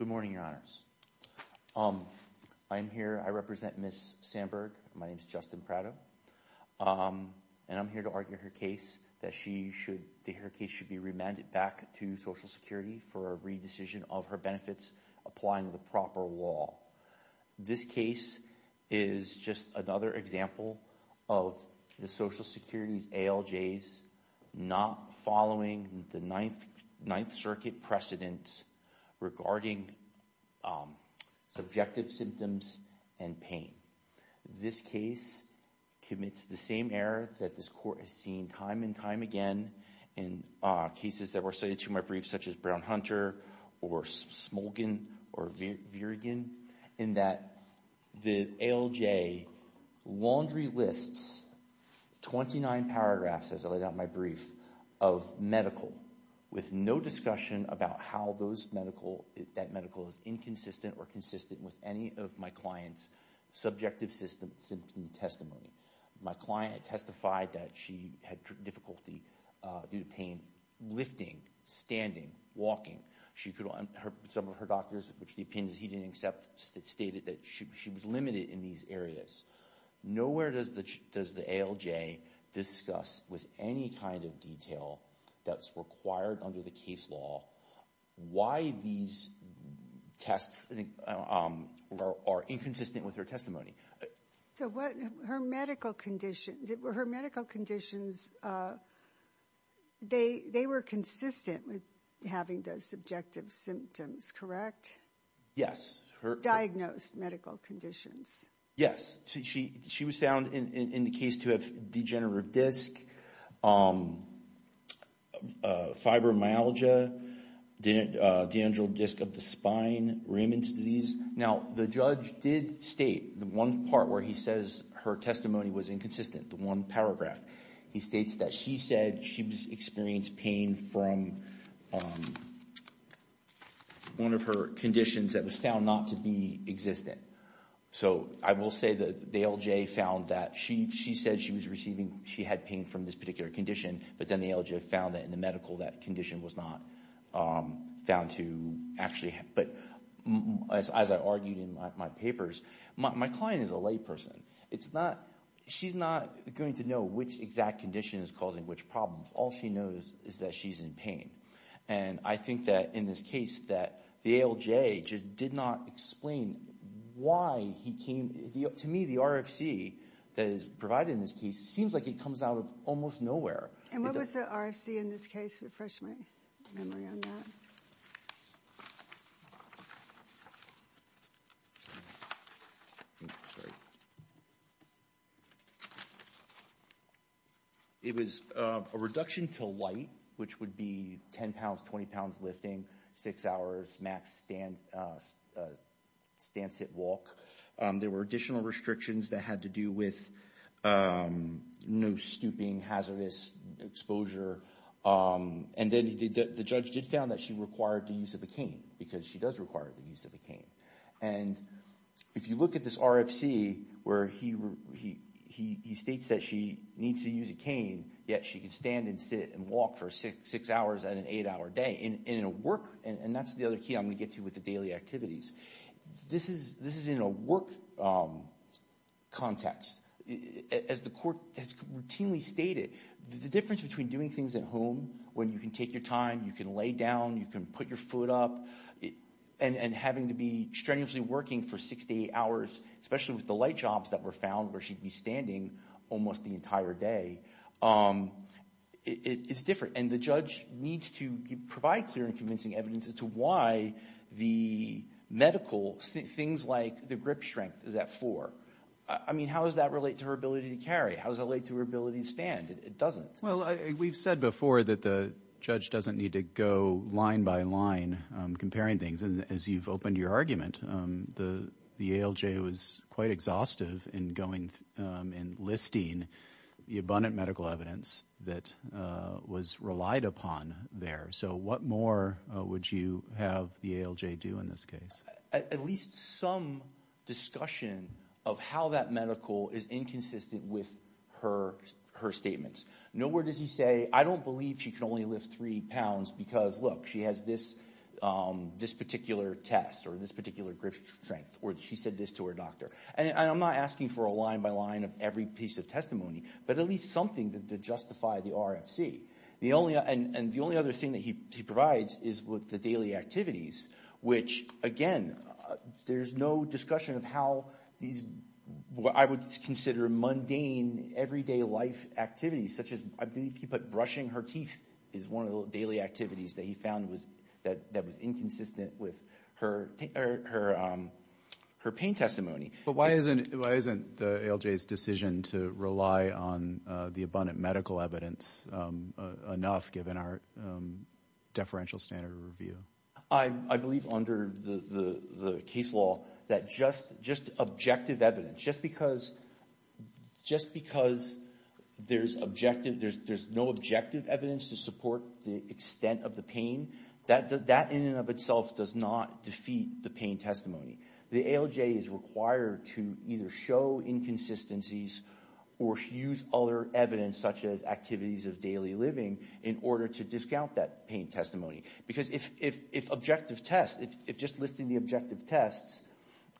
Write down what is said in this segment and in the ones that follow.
Good morning, Your Honors. I'm here, I represent Ms. Sandburg. My name is Justin Prado, and I'm here to argue her case that she should, that her case should be remanded back to Social Security for a re-decision of her benefits applying the proper law. This case is just another example of the Social Security's ALJs not following the Ninth Circuit precedents regarding subjective symptoms and pain. This case commits the same error that this court has seen time and time again in cases that were cited to my brief such as Brown-Hunter or Smolgen or Virgen in that the ALJ laundry lists 29 paragraphs, as I laid out in my brief, of medical with no discussion about how those medical, that medical is inconsistent or consistent with any of my client's subjective symptoms and testimony. My client testified that she had difficulty due to pain lifting, standing, walking. She could, some of her doctors, which the opinions he didn't accept, stated that she was limited in these areas. Nowhere does the ALJ discuss with any kind of detail that's required under the case law why these tests are inconsistent with her testimony. So what, her medical conditions, her medical conditions, they were consistent with having those subjective symptoms, correct? Yes. Diagnosed medical conditions. Yes. She was found in the case to have degenerative disc, fibromyalgia, dendral disc of the spine, Riemann's disease. Now the judge did state the one part where he says her testimony was inconsistent, the one paragraph. He states that she said she experienced pain from one of her conditions that was found not to be existent. So I will say that the ALJ found that she said she was receiving, she had pain from this particular condition, but then the ALJ found that in the medical that condition was not found to actually, but as I argued in my papers, my client is a layperson. It's not, she's not going to know which exact condition is causing which problem. All she knows is that she's in pain. And I think that in this case that the ALJ just did not explain why he came, to me the RFC that is provided in this case, it seems like it comes out of almost nowhere. And what was the RFC in this case? Refresh my memory on that. It was a reduction to light, which would be 10 pounds, 20 pounds lifting, 6 hours max stand, stand, sit, walk. There were additional restrictions that had to do with no stooping, hazardous exposure. And then the judge did found that she required the use of a cane because she does require the use of a cane. And if you look at this RFC where he states that she needs to use a cane, yet she can stand and sit and walk for 6 hours and an hour a day in a work, and that's the other key I'm going to get to with the daily activities. This is in a work context. As the court has routinely stated, the difference between doing things at home when you can take your time, you can lay down, you can put your foot up, and having to be strenuously working for 6 to 8 hours, especially with the light jobs that were found where she'd be standing almost the entire day, it's different. And the judge needs to provide clear and convincing evidence as to why the medical, things like the grip strength is at 4. I mean, how does that relate to her ability to carry? How does that relate to her ability to stand? It doesn't. Well, we've said before that the judge doesn't need to go line by line comparing things. As you've opened your argument, the ALJ was quite exhaustive in going and listing the abundant medical evidence that was relied upon there. So what more would you have the ALJ do in this case? At least some discussion of how that medical is inconsistent with her statements. No word does he say, I don't believe she can only lift 3 pounds because, look, she has this particular test or this particular grip strength, or she said this to her doctor. And I'm not looking for a line by line of every piece of testimony, but at least something to justify the RFC. And the only other thing that he provides is with the daily activities, which, again, there's no discussion of how these, what I would consider mundane, everyday life activities such as, I believe he put brushing her teeth is one of the daily activities that he found that was inconsistent with her pain testimony. But why isn't the ALJ's decision to rely on the abundant medical evidence enough given our deferential standard of review? I believe under the case law that just objective evidence, just because there's no objective evidence to support the extent of the pain, that in and of itself does not defeat the pain testimony. The ALJ is required to either show inconsistencies or use other evidence such as activities of daily living in order to discount that pain testimony. Because if objective tests, if just listing the objective tests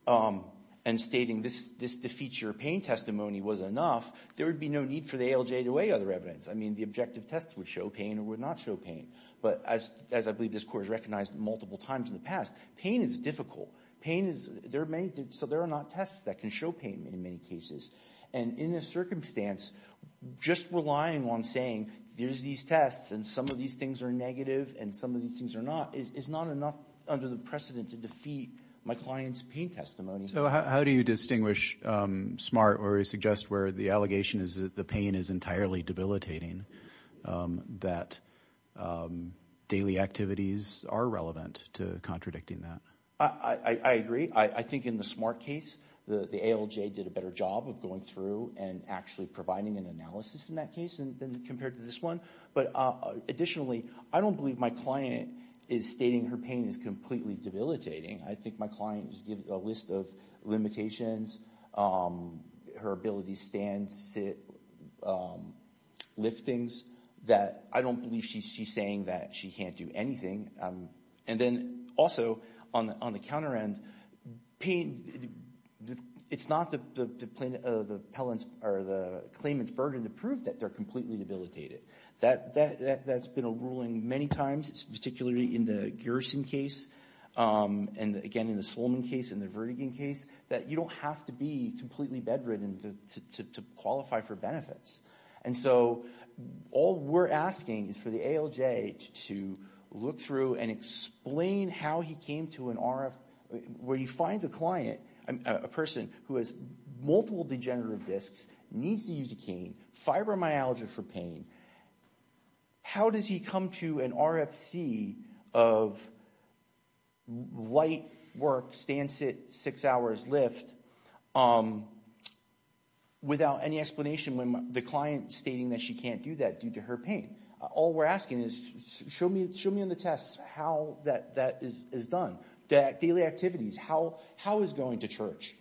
and stating this defeats your pain testimony was enough, there would be no need for the ALJ to weigh other evidence. I mean, the objective tests would show pain or would not show pain. But as I believe this Court has recognized multiple times in the past, pain is difficult. Pain is, there are many, so there are not tests that can show pain in many cases. And in this circumstance, just relying on saying there's these tests and some of these things are negative and some of these things are not is not enough under the precedent to defeat my client's pain testimony. So how do you distinguish SMART where we suggest where the allegation is that the pain is entirely debilitating, that daily activities are relevant to contradicting that? I agree. I think in the SMART case, the ALJ did a better job of going through and actually providing an analysis in that case than compared to this one. But additionally, I don't believe my client is stating her pain is completely debilitating. I think my client gives a list of limitations, her ability to stand, sit, lift things, that I don't believe she's saying that she can't do anything. And then also, on the counter end, pain, it's not the plaintiff's or the claimant's burden to prove that they're completely debilitated. That's been a ruling many times, particularly in the Gerson case, and again in the Solman case and the Vertigin case, that you don't have to be completely bedridden to qualify for benefits. And so all we're asking is for the ALJ to look through and explain how he came to an RF, where he finds a client, a person who has multiple degenerative discs, needs to use a cane, fibromyalgia for pain. How does he come to an RFC of light work, stand, sit, six hours, lift, without any explanation when the client's stating that she can't do that due to her pain? All we're asking is, show me on the test how that is done. Daily activities, how is going to the church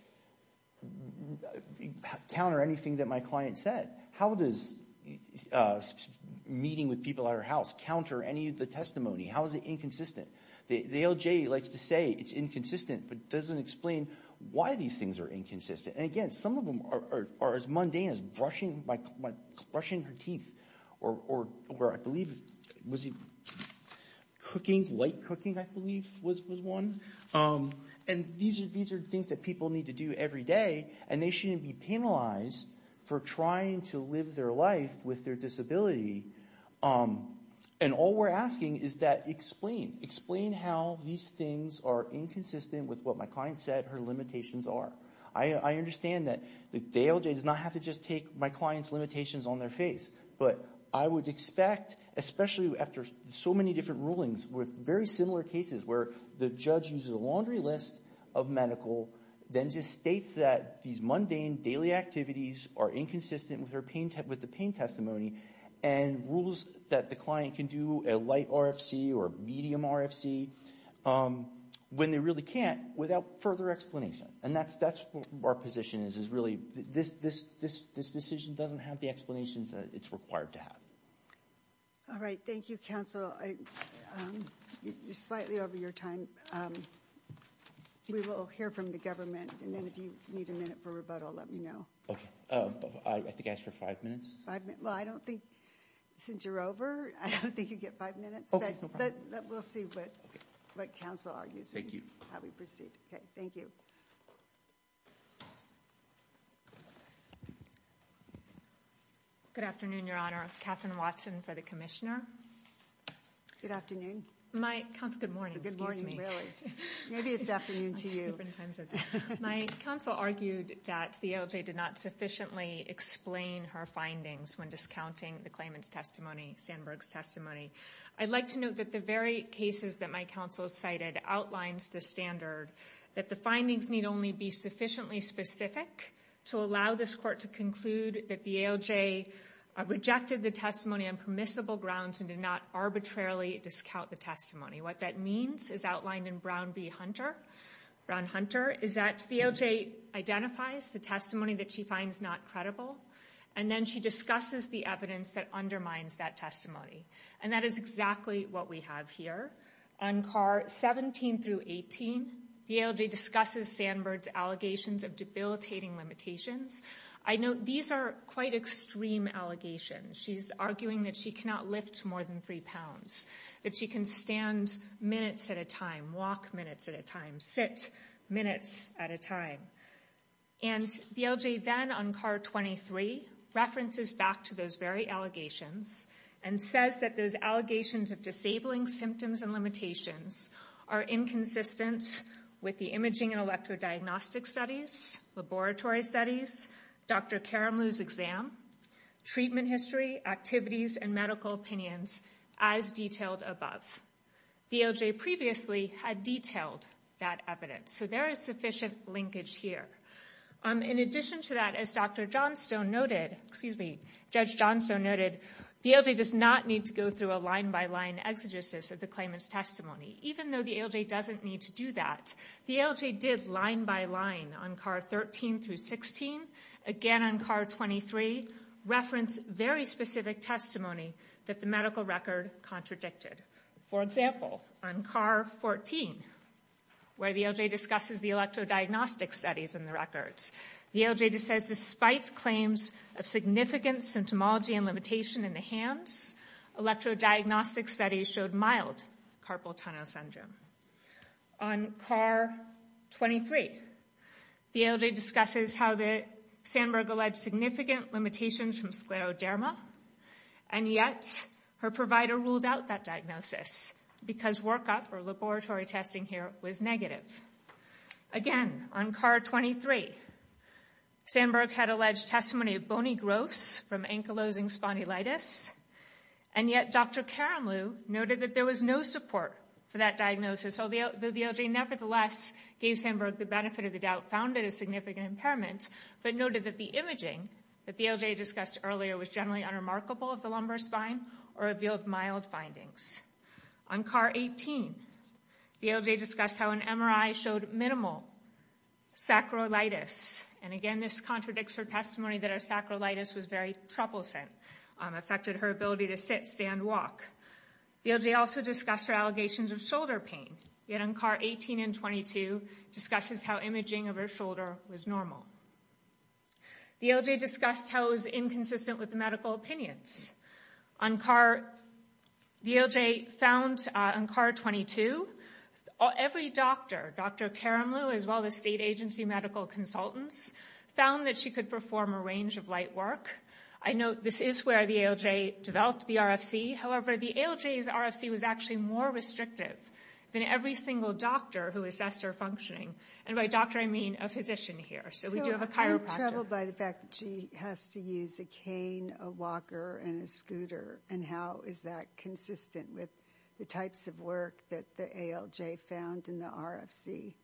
counter anything that my client said? How does meeting with people at her house counter any of the testimony? How is it inconsistent? The ALJ likes to say it's inconsistent, but doesn't explain why these things are inconsistent. And again, some of them are as mundane as brushing her teeth, or I believe it was cooking, light cooking, I believe was one. And these are things that people need to do every day, and they shouldn't be penalized for trying to live their life with their disability. And all we're asking is that explain. Explain how these things are inconsistent with what my client said her limitations are. I understand that the ALJ does not have to just take my client's limitations on their face, but I would expect, especially after so many different rulings with very similar cases where the judge uses a laundry list of medical, then just states that these mundane daily activities are inconsistent with the pain testimony, and rules that the client can do a light RFC or a medium RFC, when they really can't, without further explanation. And that's what our position is, is really this decision doesn't have the explanations that it's required to have. All right. Thank you, counsel. You're slightly over your time. We will hear from the government, and then if you need a minute for rebuttal, let me know. Okay. I think I asked for five minutes. Five minutes. Well, I don't think, since you're over, I don't think you get five minutes. Okay, no problem. But we'll see what counsel argues. Thank you. How we proceed. Okay. Thank you. Good afternoon, Your Honor. Katherine Watson for the commissioner. Good afternoon. My, counsel, good morning. Good morning, really. Maybe it's afternoon to you. My counsel argued that the AOJ did not sufficiently explain her findings when discounting the claimant's testimony, Sandberg's testimony. I'd like to note that the very cases that counsel cited outlines the standard that the findings need only be sufficiently specific to allow this court to conclude that the AOJ rejected the testimony on permissible grounds and did not arbitrarily discount the testimony. What that means is outlined in Brown v. Hunter, Brown-Hunter, is that the AOJ identifies the testimony that she finds not credible, and then she discusses the evidence that undermines that testimony. And that is exactly what we have here. On car 17 through 18, the AOJ discusses Sandberg's allegations of debilitating limitations. I note these are quite extreme allegations. She's arguing that she cannot lift more than three pounds, that she can stand minutes at a time, walk minutes at a time, sit minutes at a time. And the AOJ then, on car 23, references back to those very allegations and says that those allegations of disabling symptoms and limitations are inconsistent with the imaging and electrodiagnostic studies, laboratory studies, Dr. Karamloo's exam, treatment history, activities, and medical opinions as detailed above. The AOJ previously had detailed that evidence. So there is sufficient linkage here. In addition to that, as Dr. Johnstone noted, excuse me, Judge Johnstone noted, the AOJ does not need to go through a line-by-line exegesis of the claimant's testimony, even though the AOJ doesn't need to do that. The AOJ did line-by-line on car 13 through 16, again on car 23, reference very specific testimony that the medical record contradicted. For example, on car 14, where the AOJ discusses the electrodiagnostic studies in the records, the AOJ says, despite claims of significant symptomology and limitation in the hands, electrodiagnostic studies showed mild carpal tunnel syndrome. On car 23, the AOJ discusses how the Sandberg alleged significant limitations from scleroderma, and yet her provider ruled out that diagnosis because workup or laboratory testing here was negative. Again, on car 23, Sandberg had alleged testimony of bony growths from ankylosing spondylitis, and yet Dr. Karamloo noted that there was no support for that diagnosis. So the AOJ nevertheless gave Sandberg the benefit of the doubt, found it a significant impairment, but noted that the imaging that the AOJ discussed earlier was generally unremarkable of the lumbar spine or revealed mild findings. On car 18, the AOJ discussed how an MRI showed minimal sacroilitis, and again, this contradicts her testimony that her sacroilitis was very troublesome, affected her ability to sit, stand, walk. The AOJ also discussed her allegations of shoulder pain, yet on car 18 and 22, discusses how imaging of her shoulder was normal. The AOJ discussed how it was inconsistent with medical opinions. The AOJ found on car 22, every doctor, Dr. Karamloo as well as state agency medical consultants, found that she could perform a range of light work. I note this is where the AOJ developed the RFC, however, the AOJ's RFC was actually more restrictive than every single doctor who assessed her functioning, and by doctor I mean a physician here, so we do have a chiropractor. I'm troubled by the fact that she has to use a cane, a walker, and a scooter, and how is that consistent with the types of work that the AOJ found in the RFC?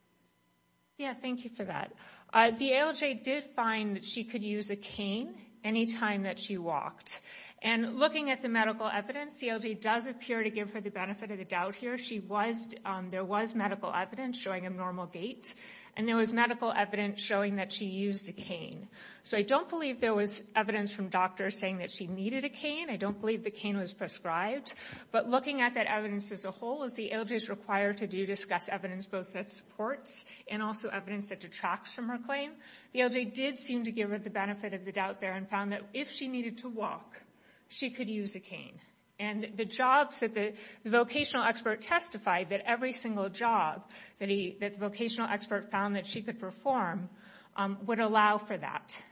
Yeah, thank you for that. The AOJ did find that she could use a cane anytime that she walked, and looking at the medical evidence, the AOJ does appear to give her the benefit of the doubt here. She was, there was medical evidence showing a normal gait, and there was medical evidence showing that she used a cane. So I don't believe there was evidence from doctors saying that she needed a cane, I don't believe the cane was prescribed, but looking at that evidence as a whole, as the AOJ is required to do discuss evidence both that supports and also evidence that detracts from her claim, the AOJ did seem to give her the benefit of the doubt there and found that if she needed to walk, she could use a cane. And the jobs that the vocational expert testified that every single job that the vocational expert found that she could perform would allow for that.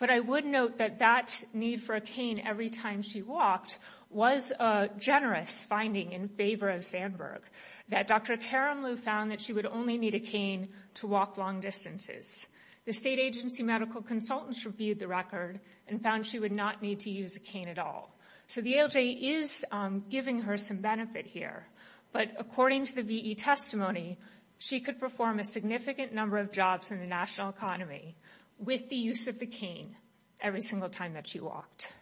But I would note that that need for a cane every time she walked was a generous finding in favor of Sandberg, that Dr. Karamloo found that she would only need a cane to walk long distances. The state agency medical consultants reviewed the record and found she would not need to use a cane at all. So the AOJ is giving her some benefit here, but according to the EE testimony, she could perform a significant number of jobs in the national economy with the use of the cane every single time that she walked.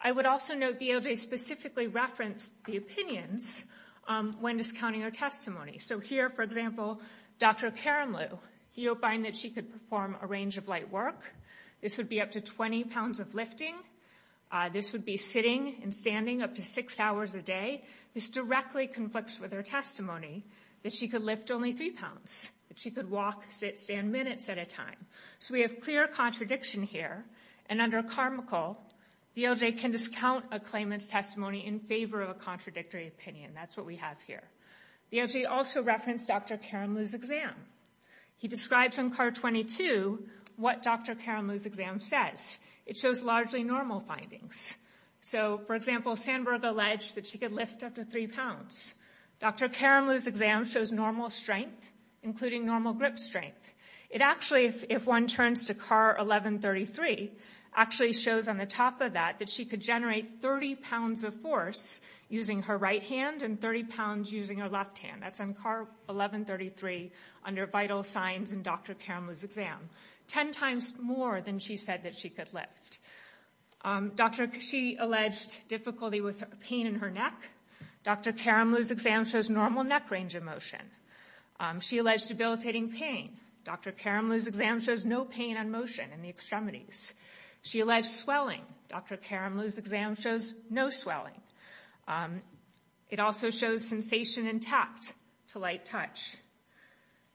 I would also note the AOJ specifically referenced the opinions when discounting her testimony. So here, for example, Dr. Karamloo, he opined that she could perform a range of light work. This would be up to 20 pounds of lifting. This would be sitting and standing up to six hours a day. This directly conflicts with her testimony that she could lift only three pounds, that she could walk, sit, stand minutes at a time. So we have clear contradiction here and under Carmichael, the AOJ can discount a claimant's testimony in favor of a contradictory opinion. That's what we have here. The AOJ also referenced Dr. Karamloo's exam. He describes on card 22 what Dr. Karamloo's exam says. It shows largely normal findings. So, for example, she alleged that she could lift up to three pounds. Dr. Karamloo's exam shows normal strength, including normal grip strength. It actually, if one turns to card 1133, actually shows on the top of that that she could generate 30 pounds of force using her right hand and 30 pounds using her left hand. That's on card 1133 under vital signs in Dr. Karamloo's exam. Ten times more than she said that she could lift. Dr. Kashi alleged difficulty with pain in her neck. Dr. Karamloo's exam shows normal neck range of motion. She alleged debilitating pain. Dr. Karamloo's exam shows no pain on motion in the extremities. She alleged swelling. Dr. Karamloo's exam shows no swelling. It also shows sensation intact to light touch.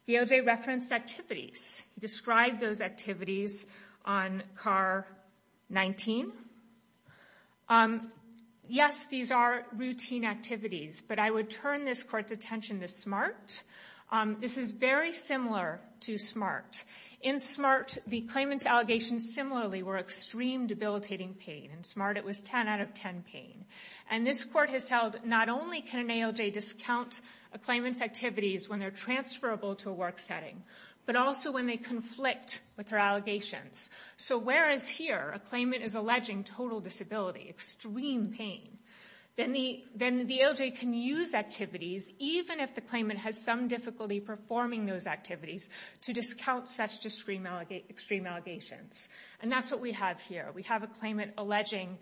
The ALJ referenced activities. He described those activities on card 19. Yes, these are routine activities, but I would turn this Court's attention to SMART. This is very similar to SMART. In SMART, the claimant's allegations similarly were extreme debilitating pain. In SMART, it was 10 out of 10 pain. This Court has held not only can an ALJ discount a claimant's activities when they're transferable to a work setting, but also when they conflict with her allegations. So whereas here, a claimant is alleging total disability, extreme pain, then the ALJ can use activities, even if the claimant has some difficulty performing those activities, to discount such extreme allegations. And that's what we have here. We have a claimant alleging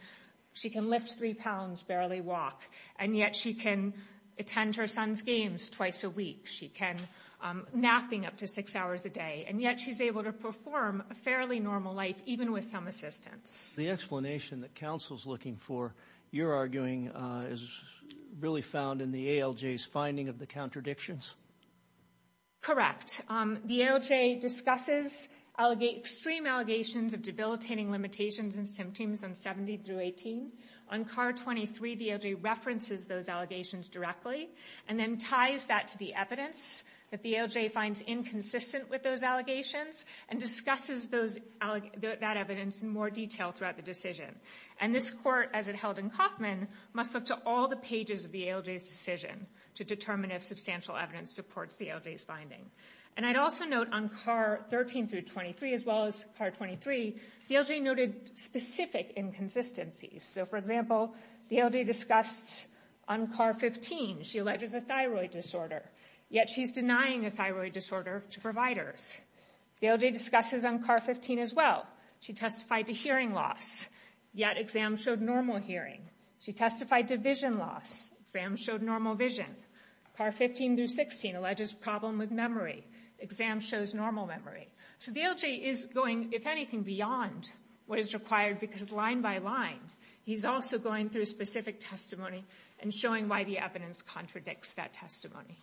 she can lift three pounds, barely walk, and yet she can attend her son's games twice a week. She can nap up to six hours a day, and yet she's able to perform a fairly normal life, even with some assistance. The explanation that counsel's looking for, you're arguing, is really found in the ALJ's finding of the contradictions? Correct. The ALJ discusses extreme allegations of debilitating limitations and symptoms on On CAR 23, the ALJ references those allegations directly, and then ties that to the evidence that the ALJ finds inconsistent with those allegations, and discusses that evidence in more detail throughout the decision. And this Court, as it held in Kauffman, must look to all the pages of the ALJ's decision to determine if substantial evidence supports the ALJ's finding. And I'd also note on CAR 13 through 23, as well as CAR 23, the ALJ noted specific inconsistencies. So for example, the ALJ discussed on CAR 15, she alleges a thyroid disorder, yet she's denying a thyroid disorder to providers. The ALJ discusses on CAR 15 as well, she testified to hearing loss, yet exam showed normal hearing. She testified to vision loss, exam showed normal vision. CAR 15 through 16 alleges problem with memory, exam shows normal memory. So the ALJ is going, if anything, beyond what is required because line by line, he's also going through specific testimony and showing why the evidence contradicts that testimony.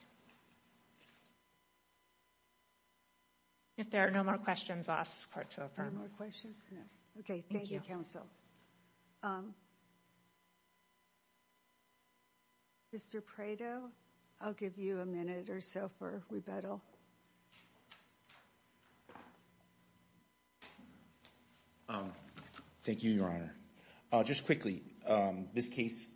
If there are no more questions, I'll ask this Court to affirm. No more questions? No. Okay, thank you, counsel. Mr. Prado, I'll give you a minute or so for rebuttal. Thank you, Your Honor. Just quickly, this case,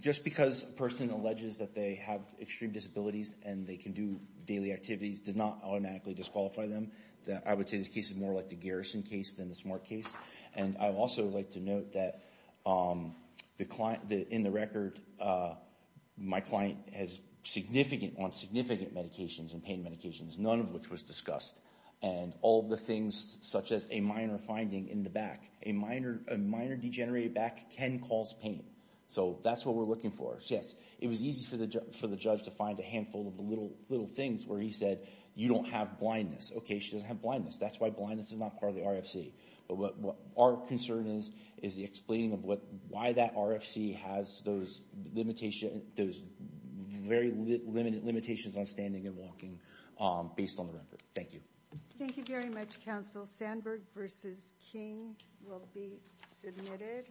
just because a person alleges that they have extreme disabilities and they can do daily activities does not automatically disqualify them. I would say this case is more like the garrison case than the smart case. And I would also like to note that in the record, my client has significant, on significant medications and pain medications, none of which was discussed. And all the things such as a minor finding in the back, a minor degenerated back can cause pain. So that's what we're looking for. Yes, it was easy for the judge to find a handful of little things where he said, you don't have blindness. Okay, she doesn't have blindness. That's why blindness is not part of the RFC. But what our concern is, is the explaining of why that RFC has those limitations, those very limited limitations on standing and walking based on the record. Thank you. Thank you very much, counsel. Sandberg v. King will be submitted.